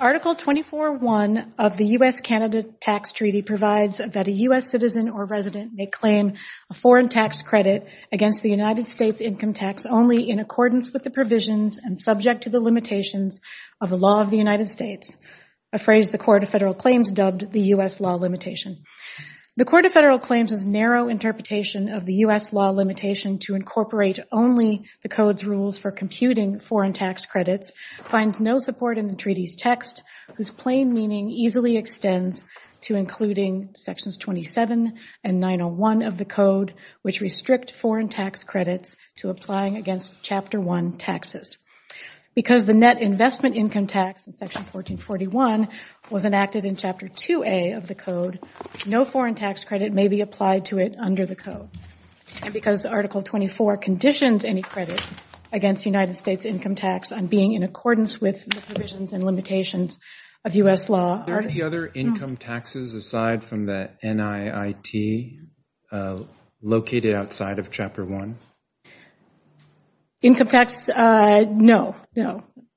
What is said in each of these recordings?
Article 24.1 of the U.S.-Canada Tax Treaty provides that a U.S. citizen or resident may claim a foreign tax credit against the United States income tax only in accordance with the provisions and subject to the limitations of the law of the United States, a phrase the Court of Federal Claims dubbed the U.S. law limitation. The Court of Federal Claims' narrow interpretation of the U.S. law limitation to incorporate only the Code's rules for computing foreign tax credits finds no support in the treaty's text, whose plain meaning easily extends to including sections 27 and 901 of the Code, which restrict foreign tax credits to applying against Chapter 1 taxes. Because the net investment income tax in Section 1441 was enacted in Chapter 2A of the Code, no foreign tax credit may be applied to it under the Code. And because Article 24 conditions any credit against the United States income tax on being in accordance with the provisions and limitations of U.S. law, are there any other income taxes aside from the NIIT located outside of Chapter 1? Income tax, no.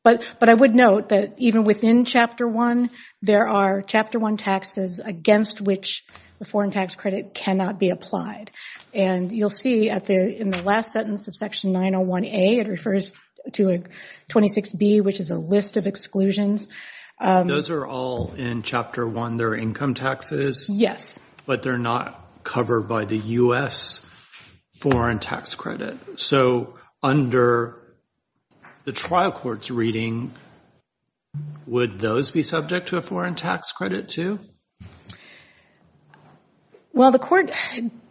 But I would note that even within Chapter 1, there are Chapter 1 taxes against which the foreign tax credit cannot be applied. And you'll see in the last sentence of Section 901A, it refers to 26B, which is a list of exclusions. Those are all in Chapter 1. They're income taxes. Yes. But they're not covered by the U.S. foreign tax credit. So under the trial court's reading, would those be subject to a foreign tax credit, too? Well, the court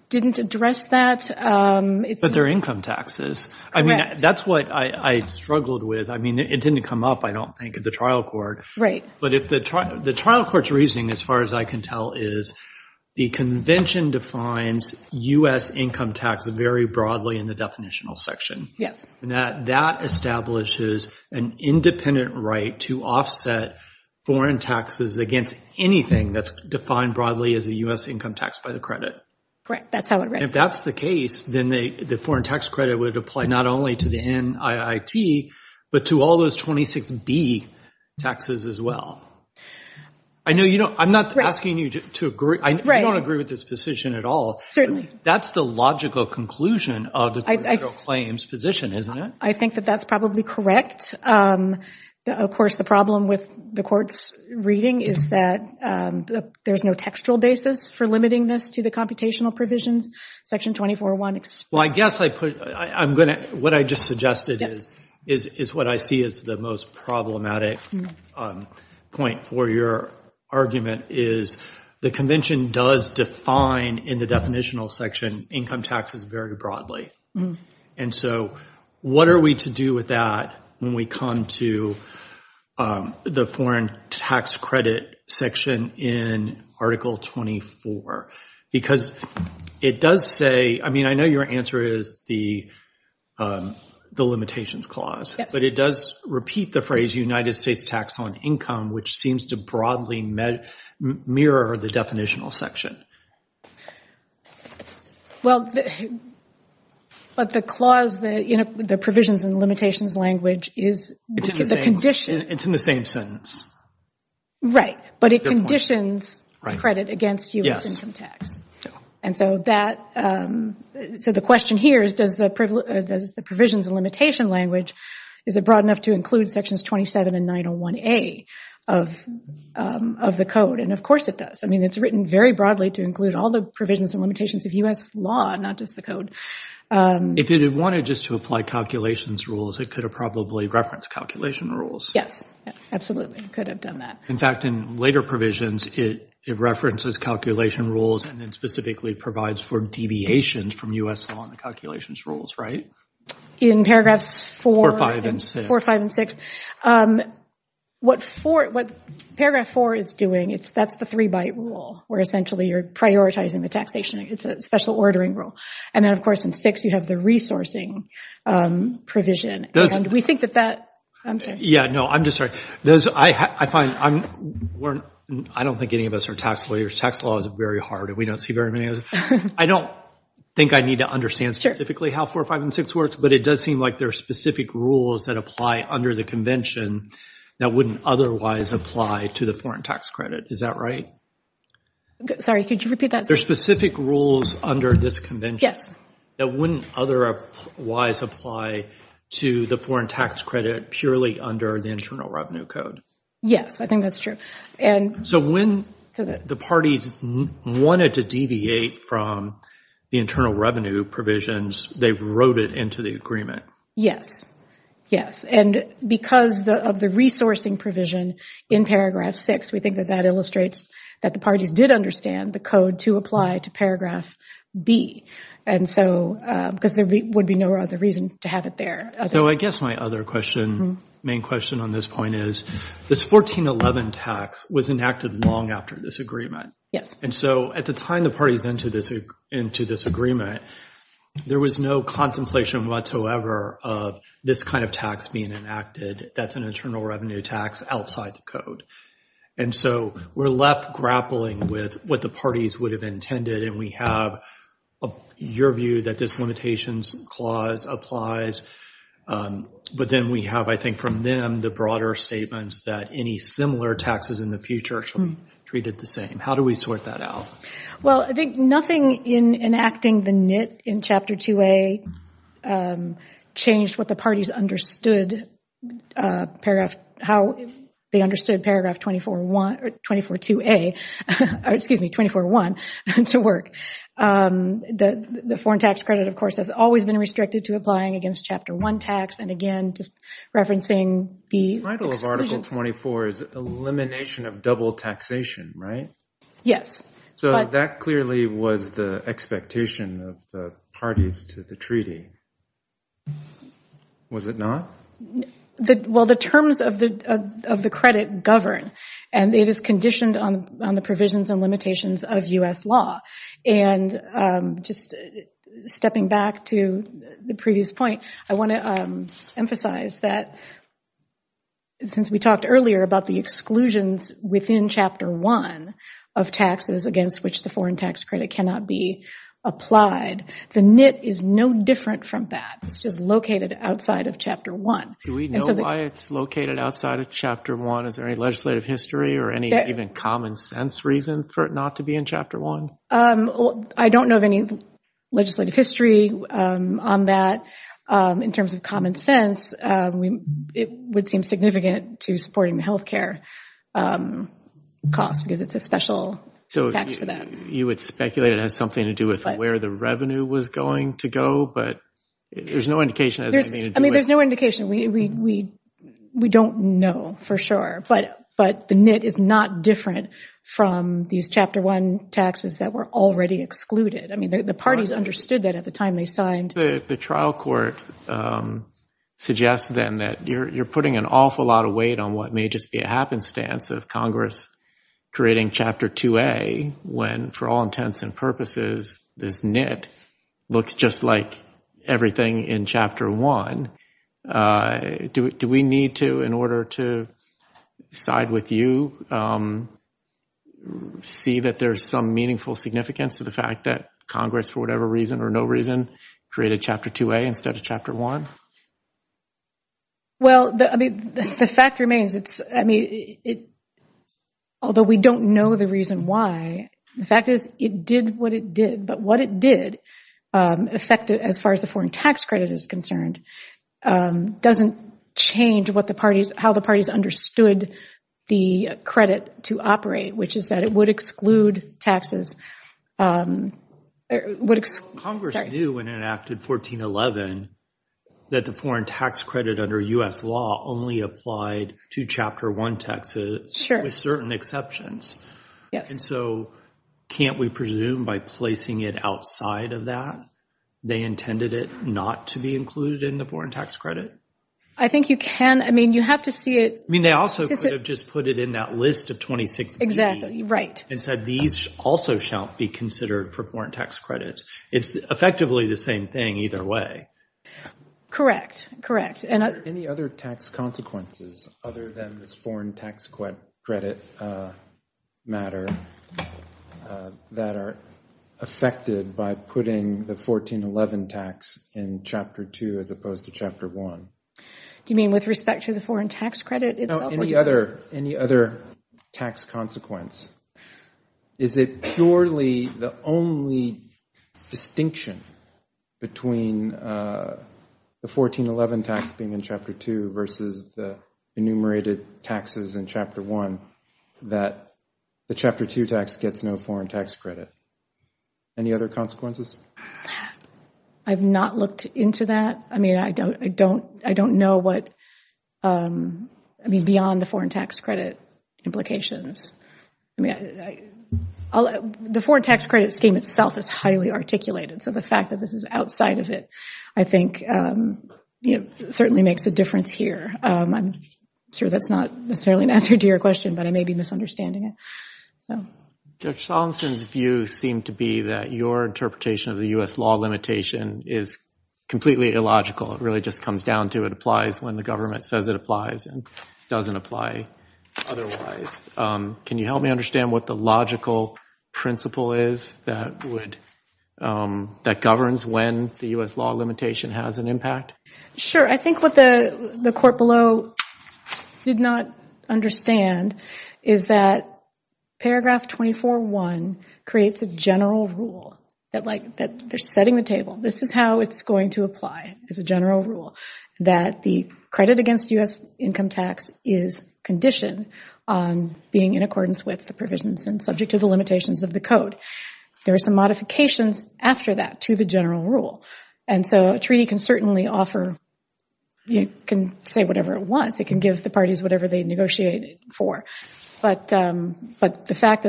didn't address that. But they're income taxes. I mean, that's what I struggled with. I mean, it didn't come up, I don't think, at the trial court. But the trial court's reasoning, as far as I can tell, is the convention defines U.S. income tax very broadly in the definitional section. That establishes an independent right to offset foreign taxes against anything that's defined broadly as a U.S. income tax by the credit. Correct. That's how it works. If that's the case, then the foreign tax credit would apply not only to the NIIT, but to all those 26B taxes as well. I'm not asking you to agree. I don't agree with this position at all. That's the logical conclusion of the federal claims position, isn't it? I think that that's probably correct. Of course, the problem with the court's reading is that there's no textual basis for limiting this to the computational provisions. Section 24.1 exposes— Well, I guess what I just suggested is what I see as the most problematic point for your argument is the convention does define, in the definitional section, income taxes very broadly. And so what are we to do with that when we come to the foreign tax credit section in Article 24? Because it does say—I mean, I know your answer is the limitations clause, but it does repeat the phrase United States tax on income, which seems to broadly mirror the definitional section. Well, but the clause, the provisions and limitations language is— It's in the same— —the condition— It's in the same sentence. Right. But it conditions credit against U.S. income tax. And so the question here is does the provisions and limitation language, is it broad enough to include sections 27 and 901A of the code? And of course it does. I mean, it's written very broadly to include all the provisions and limitations of U.S. law, not just the If it had wanted just to apply calculations rules, it could have probably referenced calculation rules. Yes, absolutely. It could have done that. In fact, in later provisions, it references calculation rules and then specifically provides for deviations from U.S. law and the calculations rules, right? In paragraphs 4— 4, 5, and 6. 4, 5, and 6. What paragraph 4 is doing, that's the three-byte rule, where essentially you're prioritizing the taxation. It's a special ordering rule. And then, of course, in 6, you have the resourcing provision. And we think that that—I'm sorry. Yeah, no, I'm just sorry. I find—I don't think any of us are tax lawyers. Tax law is very hard, and we don't see very many of us. I don't think I need to understand specifically how 4, 5, and 6 works, but it does seem like there are specific rules that apply under the convention that wouldn't otherwise apply to the foreign tax credit. Is that right? Sorry, could you repeat that? There are specific rules under this convention that wouldn't otherwise apply to the foreign tax credit purely under the Internal Revenue Code. Yes, I think that's true. So when the parties wanted to deviate from the Internal Revenue provisions, they wrote it into the agreement. Yes, yes. And because of the resourcing provision in paragraph 6, we think that that illustrates that the parties did understand the code to apply to paragraph B. And so—because there would be no other reason to have it there. So I guess my other question, main question on this point is, this 1411 tax was enacted long after this agreement. Yes. And so at the time the parties entered into this agreement, there was no contemplation whatsoever of this kind of tax being enacted that's an Internal Revenue tax outside the code. And so we're left grappling with what the parties would have intended, and we have your view that this limitations clause applies. But then we have, I think, from them the broader statements that any similar taxes in the future should be treated the same. How do we sort that out? Well, I think nothing in enacting the NIT in Chapter 2A changed what the parties understood paragraph—how they understood paragraph 241—242A—excuse me, 241 to work. The foreign tax credit, of course, has always been restricted to applying against Chapter 1 tax. And again, just referencing the exclusions— The title of Article 24 is Elimination of Double Taxation, right? Yes. So that clearly was the expectation of the parties to the treaty. Was it not? Well, the terms of the credit govern, and it is conditioned on the provisions and limitations of U.S. law. And just stepping back to the previous point, I want to emphasize that since we talked earlier about the exclusions within Chapter 1 of taxes against which the foreign tax credit cannot be applied, the NIT is no different from that. It's just located outside of Chapter 1. Do we know why it's located outside of Chapter 1? Is there any legislative history or any even common sense reason for it not to be in Chapter 1? I don't know of any legislative history on that. In terms of common sense, it would seem significant to supporting the health care cost because it's a special tax for that. So you would speculate it has something to do with where the revenue was going to go, but there's no indication it has anything to do with it. I mean, there's no indication. We don't know for sure. But the NIT is not different from these Chapter 1 taxes that were already excluded. I mean, the parties understood that at the time they signed. The trial court suggests then that you're putting an awful lot of weight on what may just be a happenstance of Congress creating Chapter 2A when, for all intents and purposes, this NIT looks just like everything in Chapter 1. Do we need to, in order to side with you, see that there's some meaningful significance to the fact that Congress, for whatever reason or no reason, created Chapter 2A instead of Chapter 1? Well, the fact remains, although we don't know the reason why, the fact is it did what it did. But what it did, as far as the foreign tax credit is concerned, doesn't change how the parties understood the credit to operate, which is that it would exclude taxes. Congress knew when it enacted 1411 that the foreign tax credit under U.S. law only applied to Chapter 1 taxes with certain exceptions. And so can't we presume by placing it outside of that they intended it not to be included in the foreign tax credit? I think you can. I mean, you have to see it. I mean, they also could have just put it in that list of 26B and said these also shall be considered for foreign tax credits. It's effectively the same thing either way. Correct. Correct. Are there any other tax consequences other than this foreign tax credit matter that are affected by putting the 1411 tax in Chapter 2 as opposed to Chapter 1? Do you mean with respect to the foreign tax credit itself? Any other tax consequence. Is it purely the only distinction between the 1411 tax being in Chapter 2 versus the enumerated taxes in Chapter 1 that the Chapter 2 tax gets no foreign tax credit? Any other consequences? I've not looked into that. I mean, I don't know what, I mean, beyond the foreign tax credit implications. The foreign tax credit scheme itself is highly articulated, so the tax credit makes a difference here. I'm sure that's not necessarily an answer to your question, but I may be misunderstanding it. Judge Solomonson's view seemed to be that your interpretation of the U.S. law limitation is completely illogical. It really just comes down to it applies when the government says it applies and doesn't apply otherwise. Can you help me understand what the logical principle is that governs when the U.S. law limitation has an impact? Sure. I think what the court below did not understand is that paragraph 24.1 creates a general rule that, like, they're setting the table. This is how it's going to apply as a general rule, that the credit against U.S. income tax is conditioned on being in accordance with the provisions and subject to the limitations of the code. There are some modifications after that to the general rule, and so a treaty can certainly offer – it can say whatever it wants. It can give the parties whatever they negotiated for, but the fact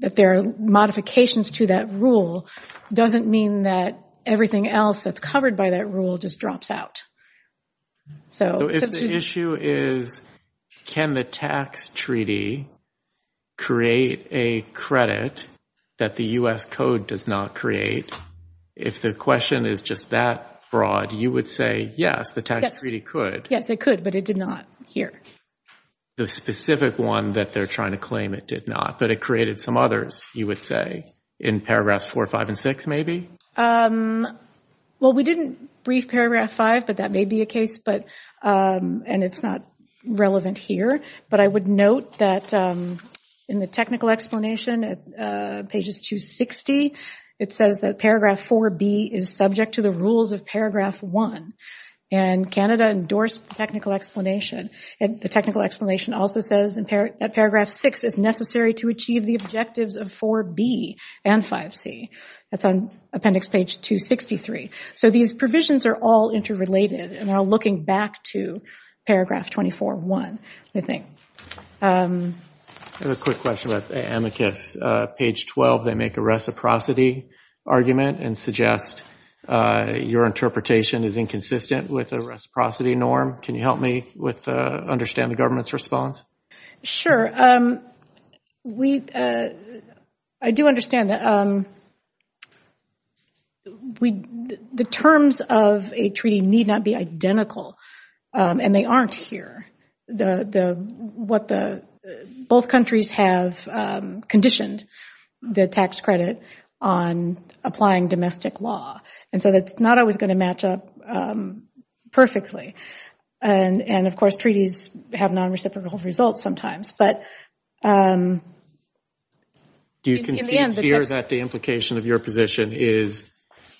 that there are modifications to that rule doesn't mean that everything else that's covered by that rule just drops out. So if the issue is, can the tax treaty create a credit that the U.S. code doesn't allow or does not create, if the question is just that broad, you would say, yes, the tax treaty could. Yes, it could, but it did not here. The specific one that they're trying to claim it did not, but it created some others, you would say, in paragraphs 4, 5, and 6, maybe? Well, we didn't brief paragraph 5, but that may be a case, and it's not relevant here, but I would note that in the technical explanation at pages 260, it says that paragraph 4B is subject to the rules of paragraph 1, and Canada endorsed the technical explanation. The technical explanation also says that paragraph 6 is necessary to achieve the objectives of 4B and 5C. That's on appendix page 263. So these provisions are all interrelated and are looking back to paragraph 24, 1, I think. I have a quick question about the amicus. Page 12, they make a reciprocity argument and suggest your interpretation is inconsistent with the reciprocity norm. Can you help me understand the government's response? Sure. I do understand that the terms of a treaty need not be identical. And they aren't here. Both countries have conditioned the tax credit on applying domestic law, and so that's not always going to match up perfectly. And of course, treaties have non-reciprocal results sometimes, but in the end, the text... Do you concede here that the implication of your position is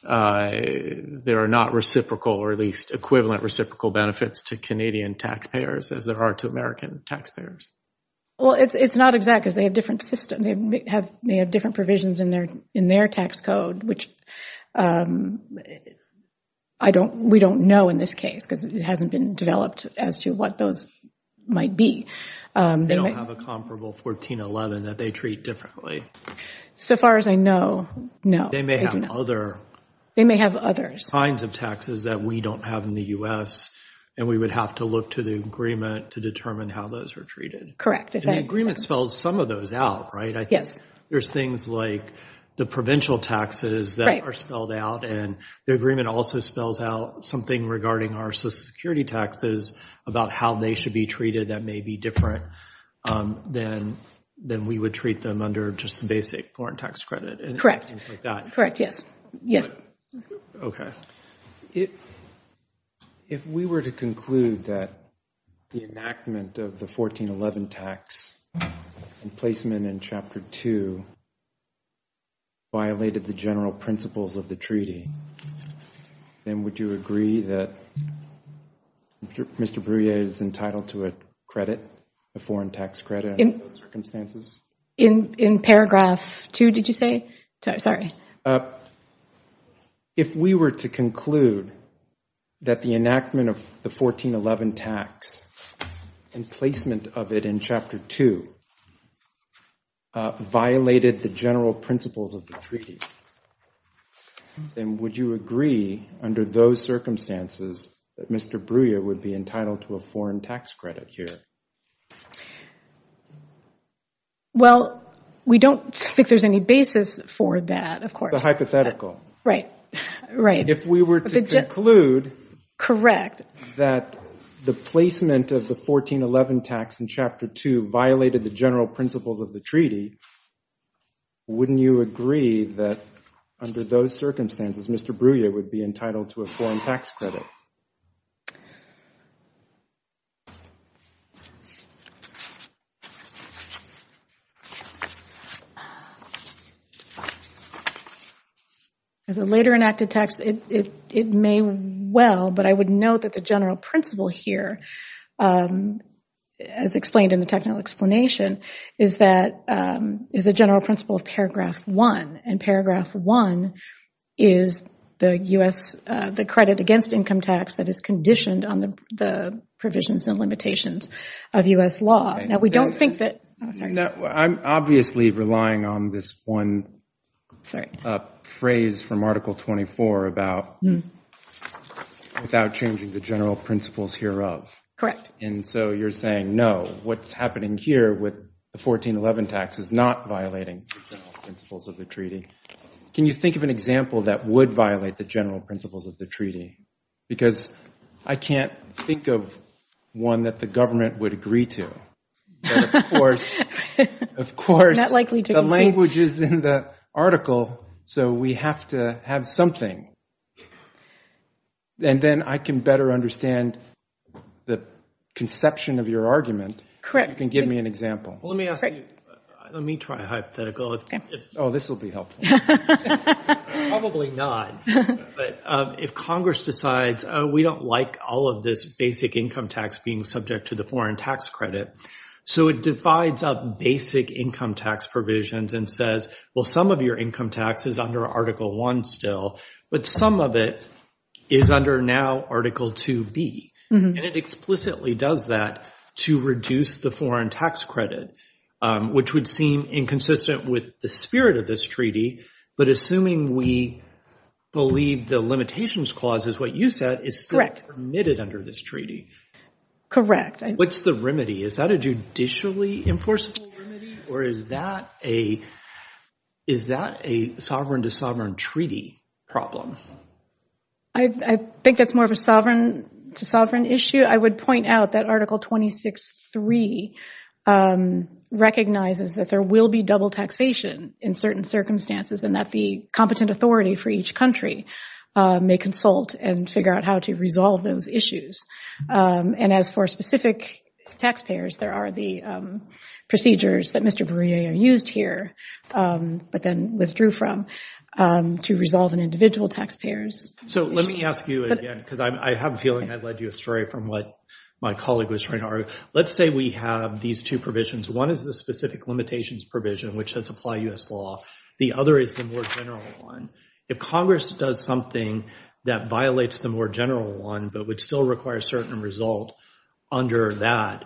there are not reciprocal or at least equivalent reciprocal benefits to Canadian taxpayers as there are to American taxpayers? Well, it's not exact because they have different systems. They have different provisions in their tax code, which we don't know in this case because it hasn't been developed as to what those might be. They don't have a comparable 1411 that they treat differently. So far as I know, no. They may have other... They may have others. Signs of taxes that we don't have in the U.S. and we would have to look to the agreement to determine how those are treated. And the agreement spells some of those out, right? Yes. There's things like the provincial taxes that are spelled out, and the agreement also spells out something regarding our social security taxes about how they should be treated that may be different than we would treat them under just the basic foreign tax credit and things like that. Correct. Yes. Okay. Mr. Brouillet, if we were to conclude that the enactment of the 1411 tax and placement in Chapter 2 violated the general principles of the treaty, then would you agree that Mr. Brouillet is entitled to a credit, a foreign tax credit under those circumstances? In paragraph 2, did you say? Sorry. If we were to conclude that the enactment of the 1411 tax and placement of it in Chapter 2 violated the general principles of the treaty, then would you agree under those circumstances that Mr. Brouillet would be entitled to a foreign tax credit here? Well, we don't think there's any basis for that, of course. The hypothetical. Right. Right. If we were to conclude that the placement of the 1411 tax in Chapter 2 violated the general principles of the treaty, wouldn't you agree that under those circumstances Mr. Brouillet would be entitled to a foreign tax credit? As a later enacted text, it may well, but I would note that the general principle here, as explained in the technical explanation, is the general principle of paragraph 1. And paragraph 1 is the credit against income tax that is conditioned on the provisions and limitations of U.S. law. Now, we don't think that. Oh, sorry. I'm obviously relying on this one phrase from Article 24 about without changing the general principles hereof. Correct. And so you're saying, no, what's happening here with the 1411 tax is not violating the general principles of the treaty. Can you think of an example that would violate the general principles of the treaty? Because I can't think of one that the government would agree to. Of course, the language is in the article, so we have to have something. And then I can better understand the conception of your argument if you can give me an example. Well, let me ask you, let me try a hypothetical if, oh, this will be helpful. Probably not. But if Congress decides, oh, we don't like all of this basic income tax being subject to the foreign tax credit, so it divides up basic income tax provisions and says, well, some of your income tax is under Article 1 still, but some of it is under now Article 2B. And it explicitly does that to reduce the foreign tax credit, which would seem inconsistent with the spirit of this treaty. But assuming we believe the limitations clause is what you said is still permitted under this treaty. Correct. What's the remedy? Is that a judicially enforceable remedy, or is that a sovereign-to-sovereign treaty problem? I think that's more of a sovereign-to-sovereign issue. I would point out that Article 26.3 recognizes that there will be double taxation in certain circumstances and that the competent authority for each country may consult and figure out how to resolve those issues. And as for specific taxpayers, there are the procedures that Mr. Bourdieu used here, but then withdrew from, to resolve an individual taxpayer's issue. So let me ask you again, because I have a feeling I've led you astray from what my colleague was trying to argue. Let's say we have these two provisions. One is the specific limitations provision, which has applied U.S. law. The other is the more general one. If Congress does something that violates the more general one, but would still require a certain result under that,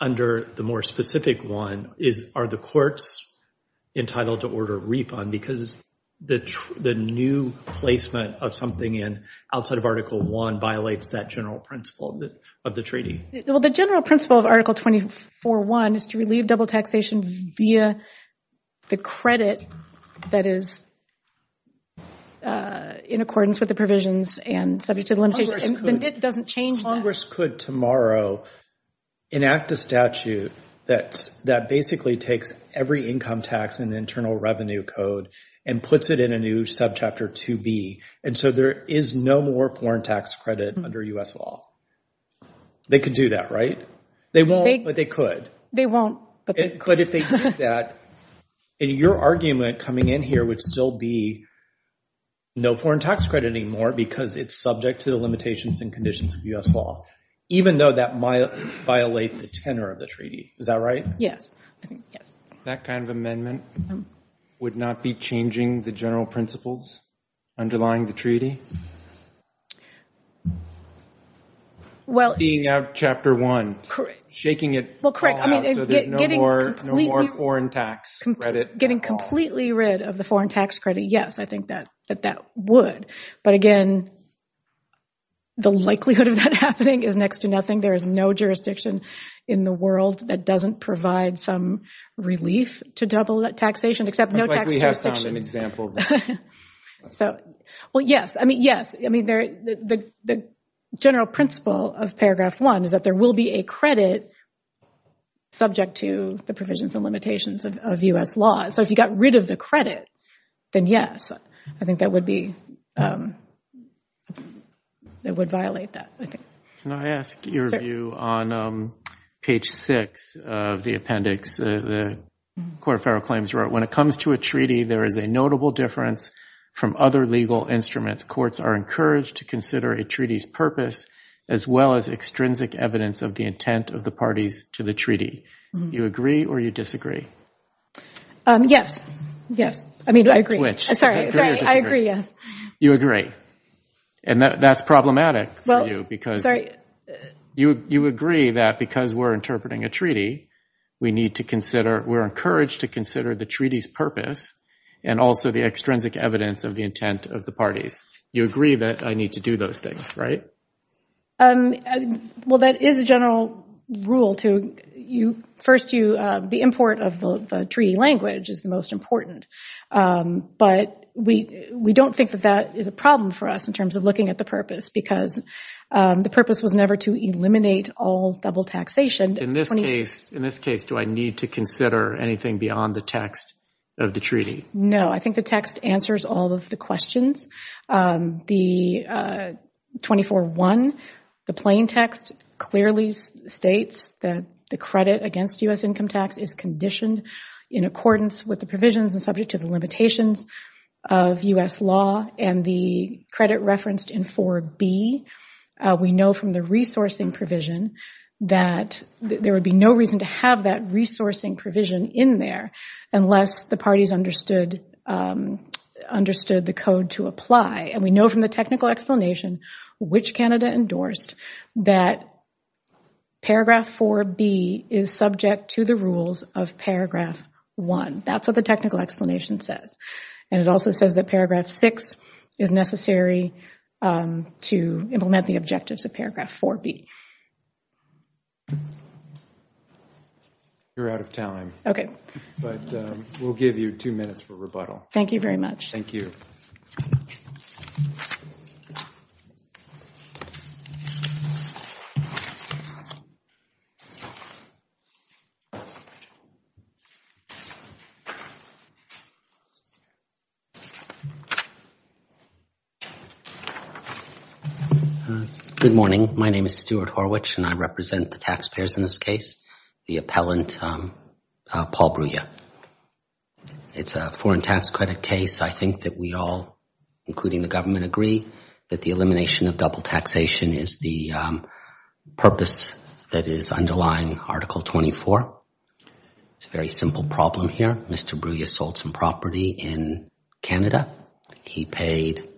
under the more specific one, are the courts entitled to order a refund? Because the new placement of something outside of Article I violates that general principle of the treaty. Well, the general principle of Article 24.1 is to relieve double taxation via the credit that is in accordance with the provisions and subject to the limitations. Congress could tomorrow enact a statute that basically takes every income tax in the Internal Revenue Code and puts it in a new subchapter 2B. And so there is no more foreign tax credit under U.S. law. They could do that, right? They won't, but they could. They won't, but they could. But if they did that, then your argument coming in here would still be no foreign tax credit anymore because it's subject to the limitations and conditions of U.S. law, even though that might violate the tenor of the treaty. Is that right? Yes. I think, yes. That kind of amendment would not be changing the general principles underlying the treaty? Well... Being out of Chapter 1. Correct. Shaking it all out. Shaking it all out so there's no more foreign tax credit at all. Getting completely rid of the foreign tax credit, yes. I think that that would. But again, the likelihood of that happening is next to nothing. There is no jurisdiction in the world that doesn't provide some relief to double taxation except no tax jurisdiction. It's like we have found an example. Well, yes. I mean, yes. I mean, the general principle of Paragraph 1 is that there will be a credit subject to the provisions and limitations of U.S. law. So if you got rid of the credit, then yes, I think that would be, that would violate that, I think. Can I ask your view on page 6 of the appendix the Court of Federal Claims wrote? When it comes to a treaty, there is a notable difference from other legal instruments. Courts are encouraged to consider a treaty's purpose as well as extrinsic evidence of the intent of the parties to the treaty. You agree or you disagree? Yes. Yes. I mean, I agree. Sorry. I agree, yes. You agree. And that's problematic for you because you agree that because we're interpreting a treaty, we need to consider, we're encouraged to consider the treaty's purpose and also the extrinsic evidence of the intent of the parties. You agree that I need to do those things, right? Well, that is a general rule to you. First you, the import of the treaty language is the most important. But we don't think that that is a problem for us in terms of looking at the purpose because the purpose was never to eliminate all double taxation. In this case, do I need to consider anything beyond the text of the treaty? No. I think the text answers all of the questions. The 24-1, the plain text clearly states that the credit against U.S. income tax is conditioned in accordance with the provisions and subject to the limitations of U.S. law and the credit referenced in 4b. We know from the resourcing provision that there would be no reason to have that resourcing provision in there unless the parties understood the code to apply. We know from the technical explanation, which Canada endorsed, that paragraph 4b is subject to the rules of paragraph 1. That's what the technical explanation says. It also says that paragraph 6 is necessary to implement the objectives of paragraph 4b. You're out of time. Okay. But we'll give you two minutes for rebuttal. Thank you very much. Thank you. Good morning. My name is Stuart Horwich and I represent the taxpayers in this case, the appellant Paul Brugge. It's a foreign tax credit case. I think that we all, including the government, agree that the elimination of double taxation is the purpose that is underlying Article 24. It's a very simple problem here. Mr. Brugge sold some property in Canada. He paid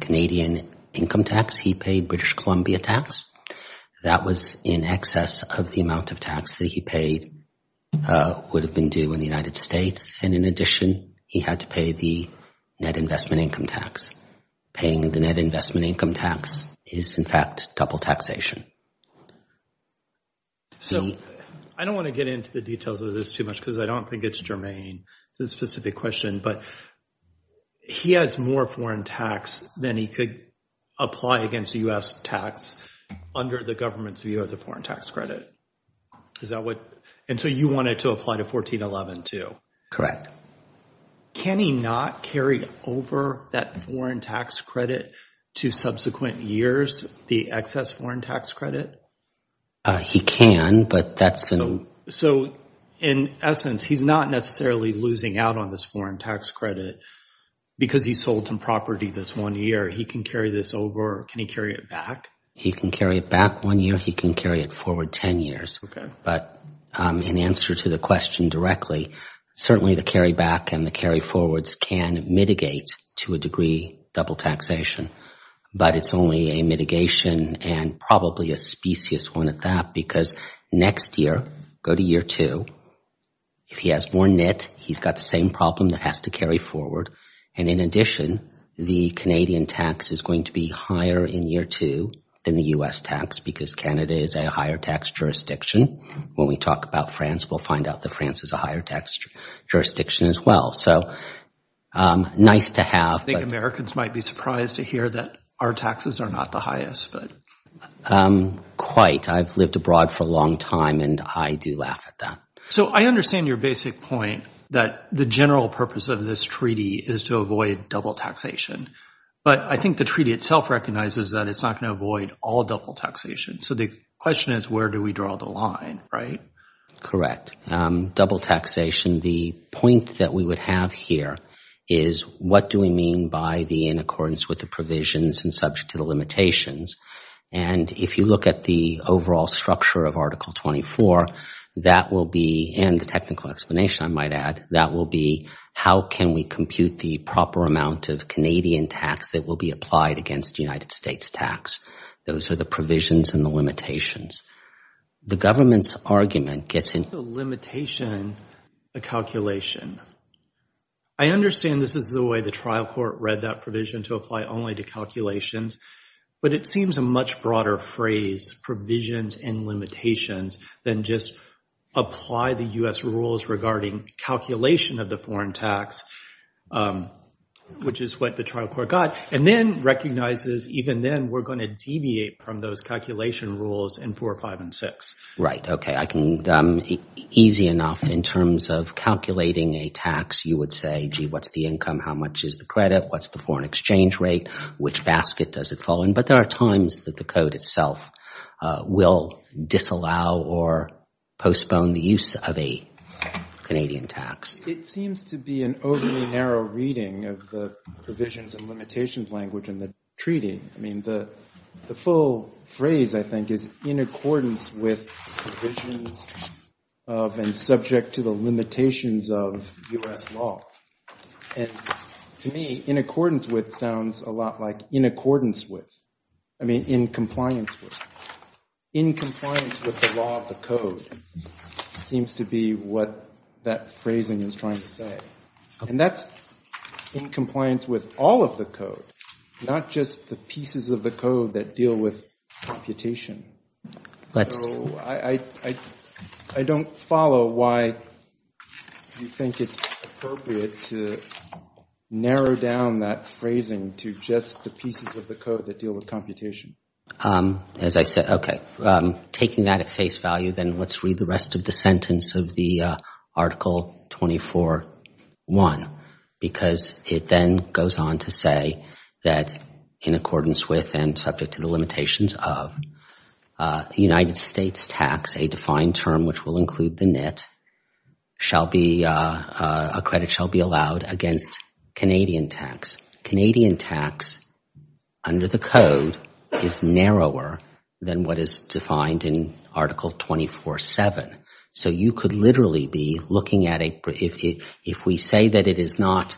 Canadian income tax. He paid British Columbia tax. That was in excess of the amount of tax that he paid would have been due in the United States. In addition, he had to pay the net investment income tax. Paying the net investment income tax is, in fact, double taxation. I don't want to get into the details of this too much because I don't think it's germane to the specific question, but he has more foreign tax than he could apply against U.S. tax under the government's view of the foreign tax credit. And so you want it to apply to 1411 too? Correct. Can he not carry over that foreign tax credit to subsequent years, the excess foreign tax credit? He can, but that's an... So in essence, he's not necessarily losing out on this foreign tax credit because he sold some property this one year. He can carry this over. Can he carry it back? He can carry it back one year. He can carry it forward 10 years, but in answer to the question directly, certainly the carry back and the carry forwards can mitigate to a degree double taxation, but it's only a mitigation and probably a specious one at that because next year, go to year two, if he has more net, he's got the same problem that has to carry forward. And in addition, the Canadian tax is going to be higher in year two than the U.S. tax because Canada is a higher tax jurisdiction. When we talk about France, we'll find out that France is a higher tax jurisdiction as well. So nice to have... I think Americans might be surprised to hear that our taxes are not the highest, but... I've lived abroad for a long time and I do laugh at that. So I understand your basic point that the general purpose of this treaty is to avoid double taxation, but I think the treaty itself recognizes that it's not going to avoid all double taxation. So the question is, where do we draw the line, right? Correct. Double taxation, the point that we would have here is what do we mean by the in accordance with the provisions and subject to the limitations? And if you look at the overall structure of Article 24, that will be, and the technical explanation I might add, that will be how can we compute the proper amount of Canadian tax that will be applied against the United States tax? Those are the provisions and the limitations. The government's argument gets in... The limitation, the calculation. I understand this is the way the trial court read that provision to apply only to calculations, but it seems a much broader phrase, provisions and limitations, than just apply the US rules regarding calculation of the foreign tax, which is what the trial court got, and then recognizes even then we're going to deviate from those calculation rules in 4, 5, and 6. Okay. I can, easy enough in terms of calculating a tax, you would say, gee, what's the income? How much is the credit? What's the foreign exchange rate? Which basket does it fall in? But there are times that the code itself will disallow or postpone the use of a Canadian tax. It seems to be an overly narrow reading of the provisions and limitations language in the treaty. I mean, the full phrase, I think, is in accordance with provisions of and subject to the limitations of US law. And to me, in accordance with sounds a lot like in accordance with, I mean, in compliance with. In compliance with the law of the code seems to be what that phrasing is trying to say. And that's in compliance with all of the code, not just the pieces of the code that deal with computation. So I don't follow why you think it's appropriate to narrow down that phrasing to just the pieces of the code that deal with computation. As I said, okay, taking that at face value, then let's read the rest of the sentence of Article 24.1 because it then goes on to say that in accordance with and subject to the limitations of United States tax, a defined term which will include the net, a credit shall be allowed against Canadian tax. Canadian tax under the code is narrower than what is defined in Article 24.7. So you could literally be looking at a, if we say that it is not,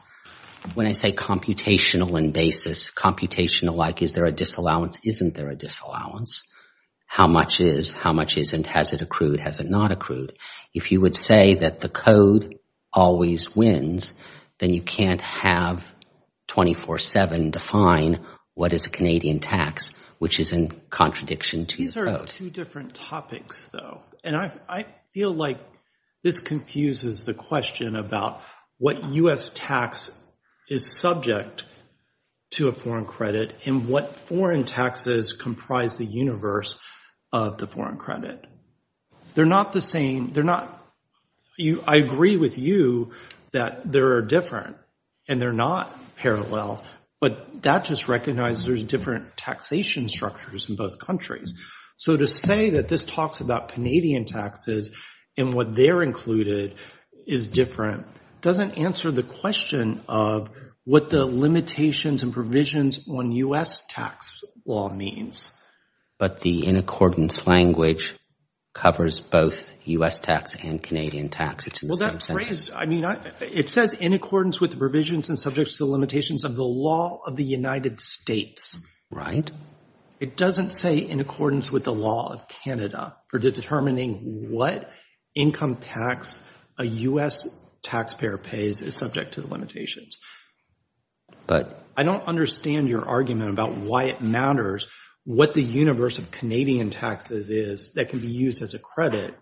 when I say computational and basis, computational like is there a disallowance, isn't there a disallowance? How much is? How much isn't? Has it accrued? Has it not accrued? If you would say that the code always wins, then you can't have 24.7 define what is a Canadian tax, which is in contradiction to the code. Two different topics though, and I feel like this confuses the question about what US tax is subject to a foreign credit and what foreign taxes comprise the universe of the foreign credit. They're not the same, they're not, I agree with you that there are different and they're not parallel, but that just recognizes there's different taxation structures in both countries. So to say that this talks about Canadian taxes and what they're included is different, doesn't answer the question of what the limitations and provisions on US tax law means. But the in accordance language covers both US tax and Canadian tax, it's in the same sentence. I mean, it says in accordance with the provisions and subjects to the limitations of the law of the United States. Right. It doesn't say in accordance with the law of Canada for determining what income tax a US taxpayer pays is subject to the limitations. But I don't understand your argument about why it matters what the universe of Canadian taxes is that can be used as a credit,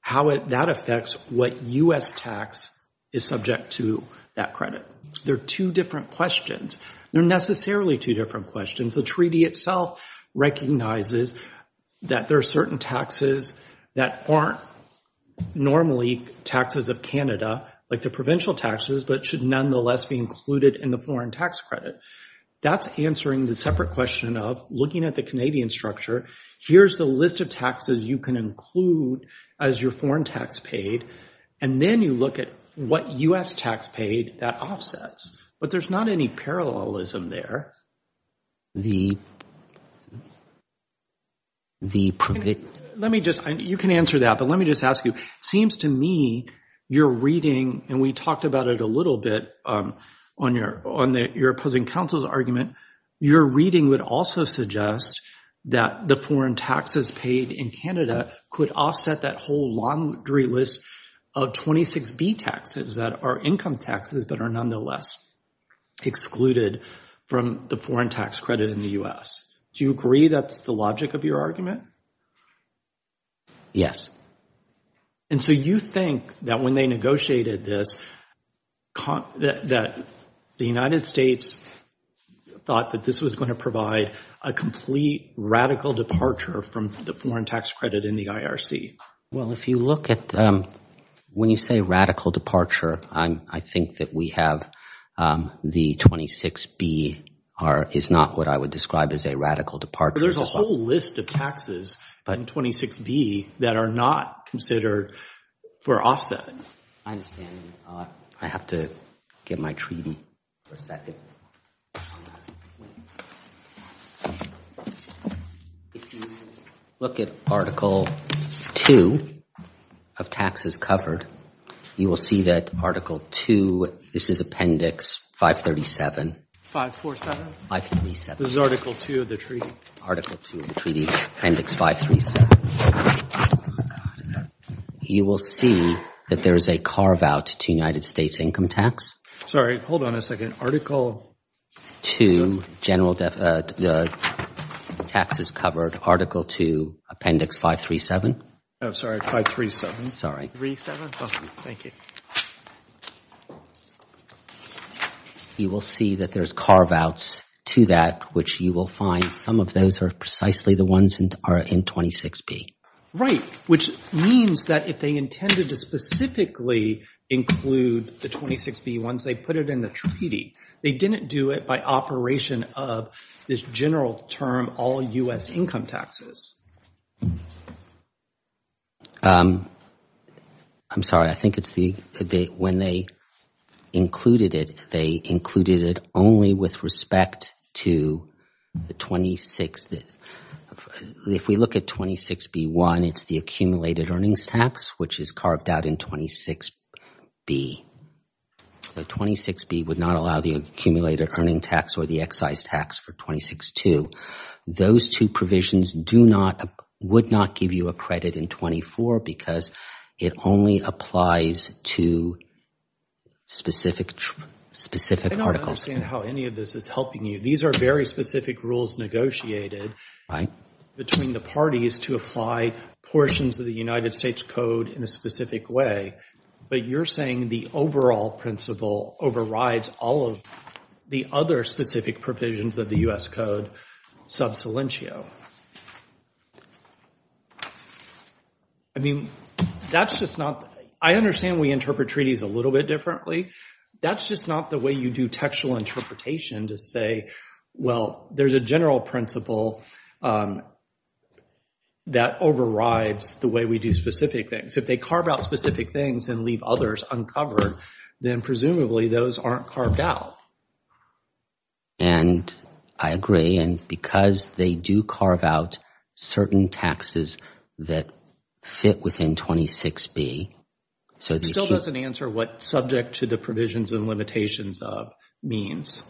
how that affects what US tax is subject to that credit. They're two different questions. They're necessarily two different questions. The treaty itself recognizes that there are certain taxes that aren't normally taxes of Canada, like the provincial taxes, but should nonetheless be included in the foreign tax credit. That's answering the separate question of looking at the Canadian structure, here's the list of taxes you can include as your foreign tax paid. And then you look at what US tax paid that offsets. But there's not any parallelism there. The. Let me just you can answer that, but let me just ask you, seems to me you're reading and we talked about it a little bit on your on your opposing counsel's argument, your reading would also suggest that the foreign taxes paid in Canada could offset that whole laundry list of 26B taxes that are income taxes, but are nonetheless excluded from the foreign tax credit in the US. Do you agree that's the logic of your argument? Yes. And so you think that when they negotiated this, that the United States thought that this was going to provide a complete radical departure from the foreign tax credit in the IRC? Well, if you look at when you say radical departure, I think that we have the 26B is not what I would describe as a radical departure. There's a whole list of taxes in 26B that are not considered for offset. I understand. I have to get my treaty for a second. If you look at Article 2 of taxes covered, you will see that Article 2, this is Appendix 537. 547? 537. This is Article 2 of the treaty. Article 2 of the treaty, Appendix 537. You will see that there is a carve out to United States income tax. Sorry. Hold on a second. Article 2, General Taxes Covered, Article 2, Appendix 537. Oh, sorry. 537. Sorry. 3-7. Thank you. You will see that there's carve outs to that, which you will find some of those are precisely the ones that are in 26B. Right. Which means that if they intended to specifically include the 26B ones, they put it in the treaty. They didn't do it by operation of this general term, all U.S. income taxes. I'm sorry. I think it's the, when they included it, they included it only with respect to the 26, if we look at 26B-1, it's the accumulated earnings tax, which is carved out in 26B. 26B would not allow the accumulated earnings tax or the excise tax for 26-2. Those two provisions do not, would not give you a credit in 24 because it only applies to specific articles. I don't understand how any of this is helping you. These are very specific rules negotiated between the parties to apply portions of the United States Code in a specific way, but you're saying the overall principle overrides all of the other specific provisions of the U.S. Code sub salientio. I mean, that's just not, I understand we interpret treaties a little bit differently. That's just not the way you do textual interpretation to say, well, there's a general principle that overrides the way we do specific things. If they carve out specific things and leave others uncovered, then presumably those aren't carved out. And I agree. And because they do carve out certain taxes that fit within 26B, so they still doesn't answer what subject to the provisions and limitations of means.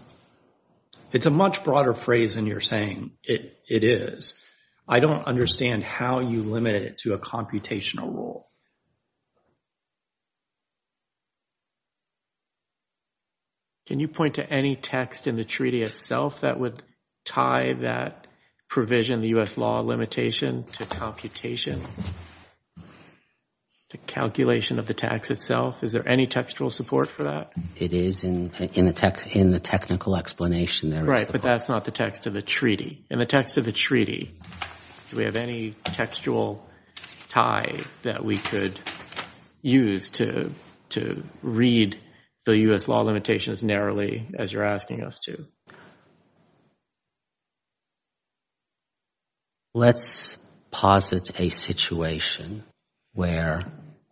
It's a much broader phrase than you're saying it is. I don't understand how you limit it to a computational rule. Can you point to any text in the treaty itself that would tie that provision, the U.S. law limitation, to computation, to calculation of the tax itself? Is there any textual support for that? It is in the technical explanation there. Right, but that's not the text of the treaty. In the text of the treaty, do we have any textual tie that we could use to read the U.S. law limitation as narrowly as you're asking us to? Let's posit a situation where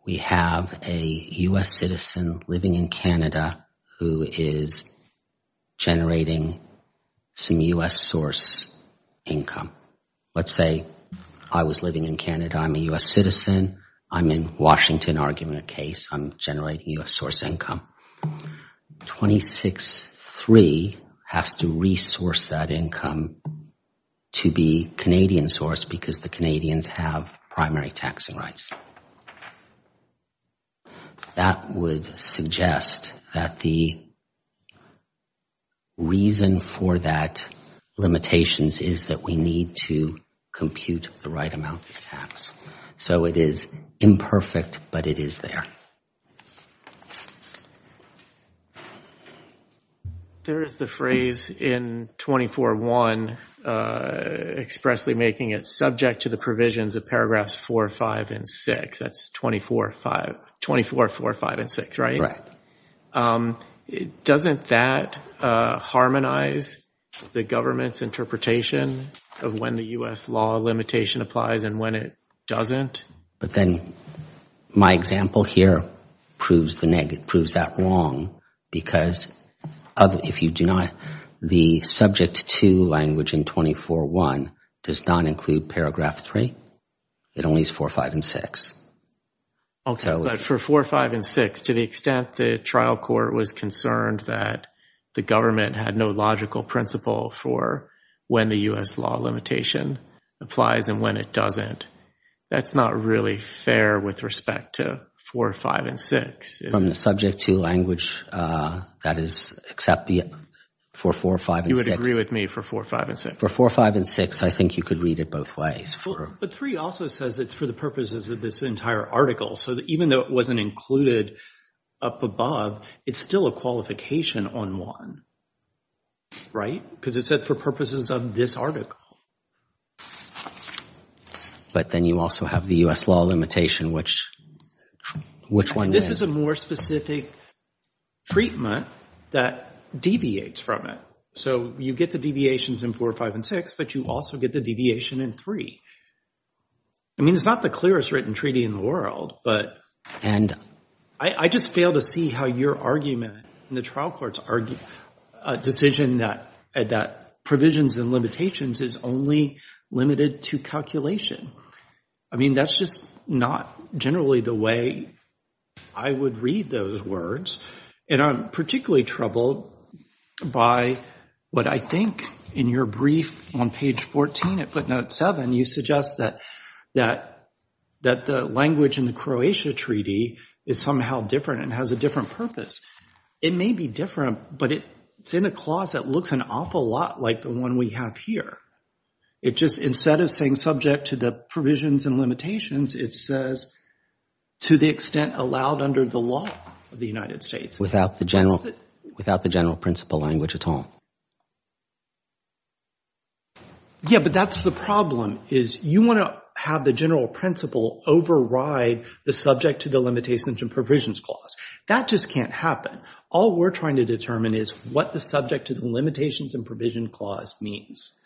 we have a U.S. citizen living in Canada who is generating some U.S. source income. Let's say I was living in Canada. I'm a U.S. citizen. I'm in Washington arguing a case. I'm generating U.S. source income. 26-3 has to resource that income to be Canadian source because the Canadians have primary taxing rights. That would suggest that the reason for that limitation is that we need to compute the right amount of tax. So it is imperfect, but it is there. There is the phrase in 24-1 expressly making it subject to the provisions of paragraphs 4, 5, and 6. That's 24, 4, 5, and 6, right? Doesn't that harmonize the government's interpretation of when the U.S. law limitation applies and when it doesn't? My example here proves that wrong because the subject to language in 24-1 does not include paragraph 3. It only is 4, 5, and 6. For 4, 5, and 6, to the extent the trial court was concerned that the government had no logical principle for when the U.S. law limitation applies and when it doesn't, that's not really fair with respect to 4, 5, and 6. From the subject to language, that is, except for 4, 5, and 6. You would agree with me for 4, 5, and 6. For 4, 5, and 6, I think you could read it both ways. But 3 also says it's for the purposes of this entire article. So even though it wasn't included up above, it's still a qualification on 1, right? Because it said for purposes of this article. But then you also have the U.S. law limitation, which one then? This is a more specific treatment that deviates from it. So you get the deviations in 4, 5, and 6, but you also get the deviation in 3. I mean, it's not the clearest written treaty in the world, but I just fail to see how your argument in the trial court's decision that provisions and limitations is only limited to calculation. I mean, that's just not generally the way I would read those words. And I'm particularly troubled by what I think in your brief on page 14 at footnote 7, you suggest that the language in the Croatia treaty is somehow different and has a different purpose. It may be different, but it's in a clause that looks an awful lot like the one we have here. It just, instead of saying subject to the provisions and limitations, it says to the extent allowed under the law of the United States. Without the general principle language at all. Yeah, but that's the problem, is you want to have the general principle override the subject to the limitations and provisions clause. That just can't happen. All we're trying to determine is what the subject to the limitations and provision clause means.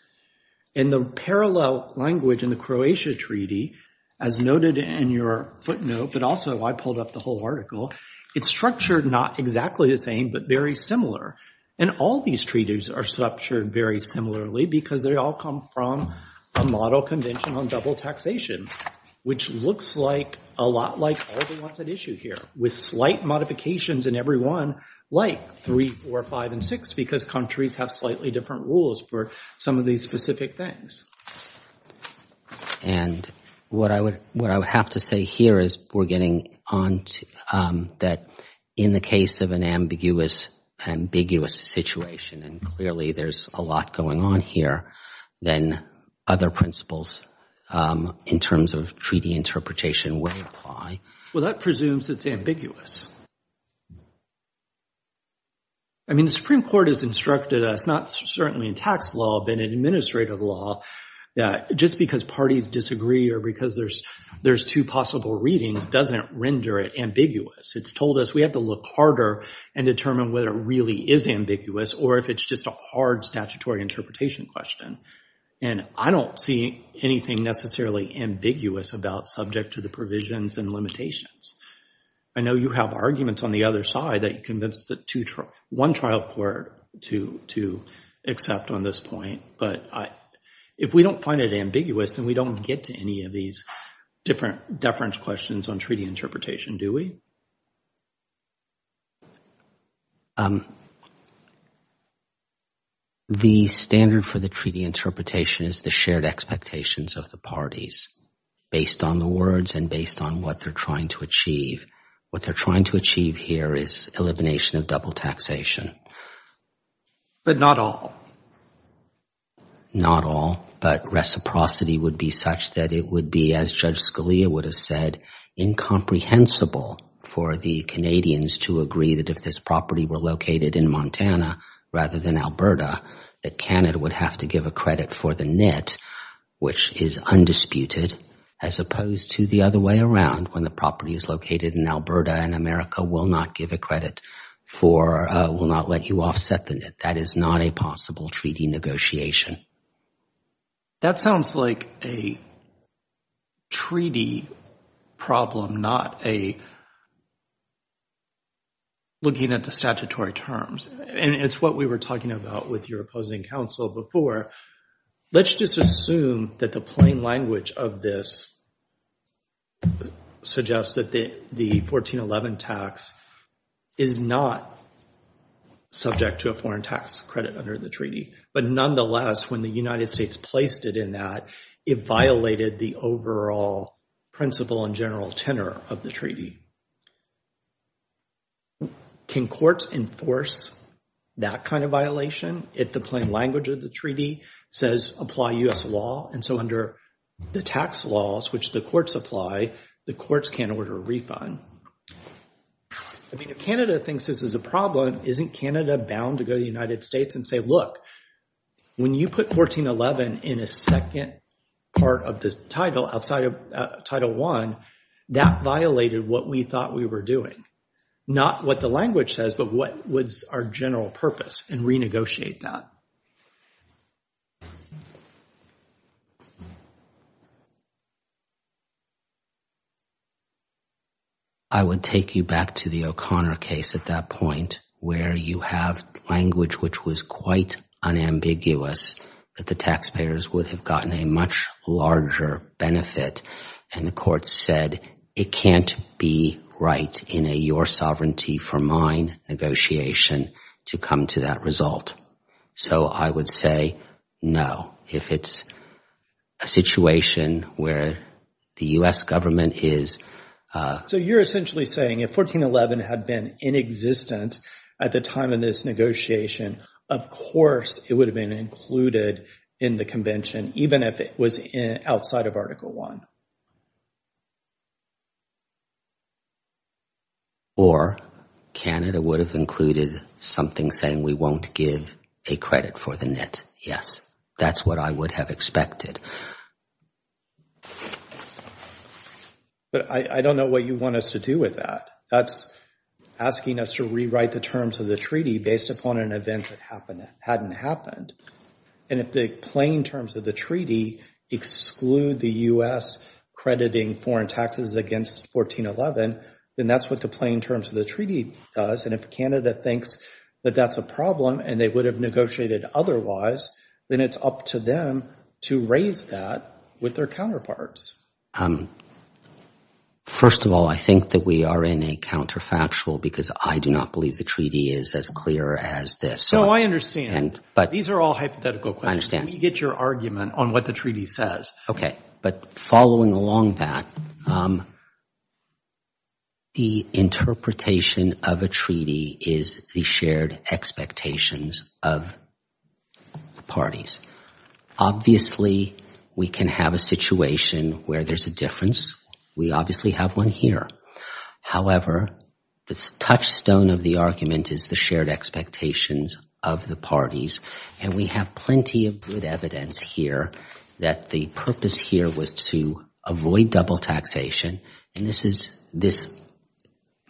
In the parallel language in the Croatia treaty, as noted in your footnote, but also I pulled up the whole article, it's structured not exactly the same, but very similar. And all these treaties are structured very similarly because they all come from a model convention on double taxation, which looks like a lot like all the ones at issue here with slight modifications in every one, like three, four, five, and six, because countries have slightly different rules for some of these specific things. And what I would have to say here is we're getting on to, that in the case of an ambiguous situation, and clearly there's a lot going on here, then other principles in terms of treaty interpretation would apply. Well, that presumes it's ambiguous. I mean, the Supreme Court has instructed us, not certainly in tax law, but in administrative law, that just because parties disagree or because there's two possible readings doesn't render it ambiguous. It's told us we have to look harder and determine whether it really is ambiguous or if it's just a hard statutory interpretation question. And I don't see anything necessarily ambiguous about subject to the provisions and limitations. I know you have arguments on the other side that you convinced one trial court to accept on this point, but if we don't find it ambiguous and we don't get to any of these different deference questions on treaty interpretation, do we? The standard for the treaty interpretation is the shared expectations of the parties based on the words and based on what they're trying to achieve. What they're trying to achieve here is elimination of double taxation. But not all? Not all. But reciprocity would be such that it would be, as Judge Scalia would have said, incomprehensible for the Canadians to agree that if this property were located in Montana rather than Alberta, that Canada would have to give a credit for the net, which is undisputed, as opposed to the other way around, when the property is located in Alberta and America will not give a credit for, will not let you offset the net. That is not a possible treaty negotiation. That sounds like a treaty problem, not a looking at the statutory terms, and it's what we were talking about with your opposing counsel before. Let's just assume that the plain language of this suggests that the 1411 tax is not subject to a foreign tax credit under the treaty. But nonetheless, when the United States placed it in that, it violated the overall principle and general tenor of the treaty. Can courts enforce that kind of violation if the plain language of the treaty says apply U.S. law? And so under the tax laws, which the courts apply, the courts can't order a refund. I mean, if Canada thinks this is a problem, isn't Canada bound to go to the United States and say, look, when you put 1411 in a second part of the title outside of Title I, that violated what we thought we were doing. Not what the language says, but what was our general purpose, and renegotiate that. I would take you back to the O'Connor case at that point where you have language which was quite unambiguous that the taxpayers would have gotten a much larger benefit, and the courts said, it can't be right in a your sovereignty for mine negotiation to come to that result. So I would say no, if it's a situation where the U.S. government is. So you're essentially saying if 1411 had been in existence at the time of this negotiation, of course, it would have been included in the convention, even if it was outside of Title I. Or Canada would have included something saying we won't give a credit for the net, yes. That's what I would have expected. But I don't know what you want us to do with that. That's asking us to rewrite the terms of the treaty based upon an event that hadn't happened. And if the plain terms of the treaty exclude the U.S. crediting foreign taxes against 1411, then that's what the plain terms of the treaty does, and if Canada thinks that that's a problem and they would have negotiated otherwise, then it's up to them to raise that with their counterparts. First of all, I think that we are in a counterfactual because I do not believe the treaty is as clear as this. No, I understand. These are all hypothetical questions. I understand. Let me get your argument on what the treaty says. Okay. But following along that, the interpretation of a treaty is the shared expectations of the parties. Obviously, we can have a situation where there's a difference. We obviously have one here. However, the touchstone of the argument is the shared expectations of the parties, and we have plenty of good evidence here that the purpose here was to avoid double taxation, and this is, in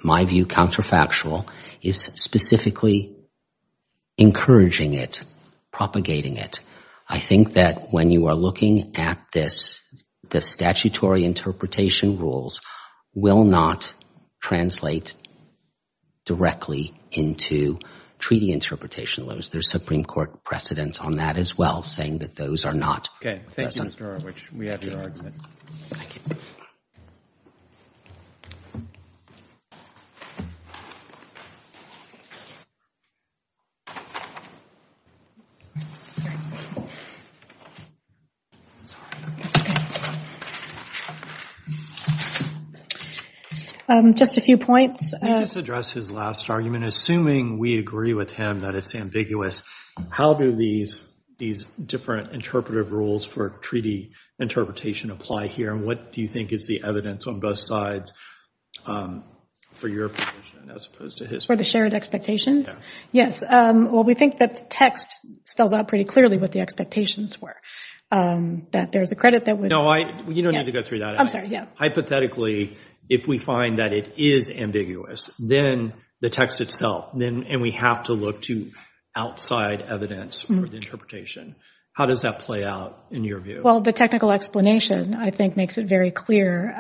my view, counterfactual. It's specifically encouraging it, propagating it. I think that when you are looking at this, the statutory interpretation rules will not translate directly into treaty interpretation laws. There's Supreme Court precedents on that as well, saying that those are not. Okay. Thank you, Mr. Erwich. We have your argument. Thank you. Sorry. Just a few points. Can I just address his last argument? Assuming we agree with him that it's ambiguous, how do these different interpretive rules for treaty interpretation apply here, and what do you think is the evidence on both sides for your opinion as opposed to his? For the shared expectations? Yeah. Yes. Well, we think that the text spells out pretty clearly what the expectations were, that there's a credit that would... No, you don't need to go through that. I'm sorry. Yeah. Hypothetically, if we find that it is ambiguous, then the text itself, and we have to look to outside evidence for the interpretation. How does that play out in your view? Well, the technical explanation, I think, makes it very clear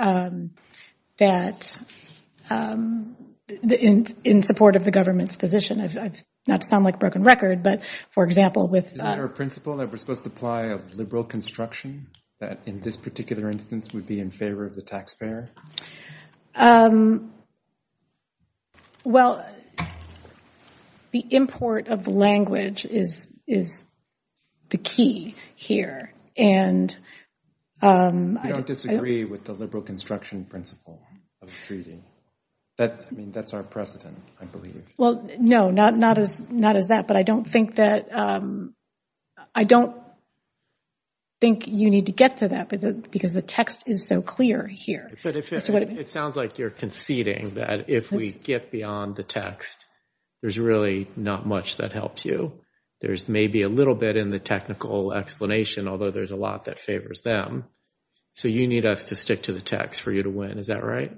that in support of the I don't want to sound like a broken record, but, for example, with... Isn't there a principle that we're supposed to apply of liberal construction that, in this particular instance, would be in favor of the taxpayer? Well, the import of the language is the key here, and... You don't disagree with the liberal construction principle of the treaty? I mean, that's our precedent, I believe. Well, no, not as that, but I don't think that... I don't think you need to get to that, because the text is so clear here. But if it sounds like you're conceding that if we get beyond the text, there's really not much that helps you. There's maybe a little bit in the technical explanation, although there's a lot that favors them. So you need us to stick to the text for you to win. Is that right?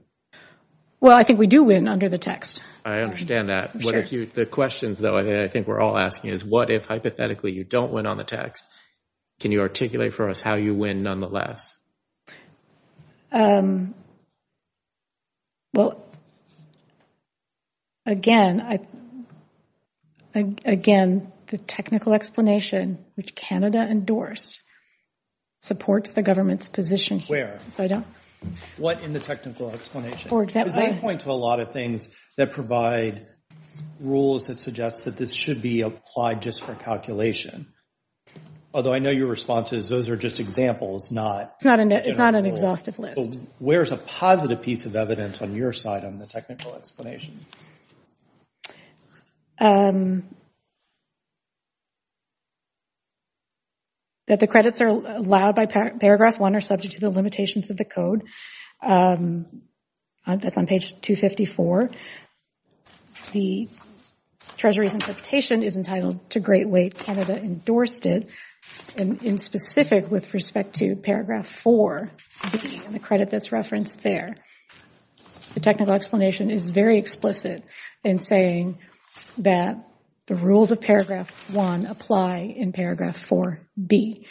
Well, I think we do win under the text. I understand that. What if you... The questions, though, I think we're all asking is, what if, hypothetically, you don't win on the text? Can you articulate for us how you win, nonetheless? Well, again, I... Again, the technical explanation, which Canada endorsed, supports the government's position here. Where? What in the technical explanation? For example... I'm trying to point to a lot of things that provide rules that suggest that this should be applied just for calculation. Although I know your response is, those are just examples, not... It's not an exhaustive list. Where's a positive piece of evidence on your side on the technical explanation? That the credits are allowed by paragraph one are subject to the limitations of the code. That's on page 254. The Treasury's interpretation is entitled to great weight, Canada endorsed it, in specific with respect to paragraph 4B and the credit that's referenced there. The technical explanation is very explicit in saying that the rules of paragraph one apply in paragraph 4B.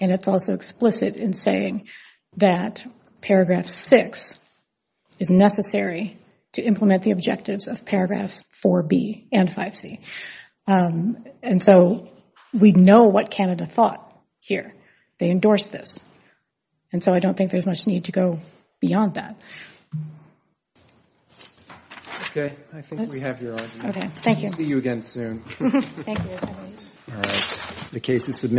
And it's also explicit in saying that paragraph six is necessary to implement the objectives of paragraphs 4B and 5C. And so, we know what Canada thought here, they endorsed this. And so I don't think there's much need to go beyond that. Okay, I think we have your argument. Okay, thank you. We'll see you again soon. Thank you. All right. The case is submitted. Thank you.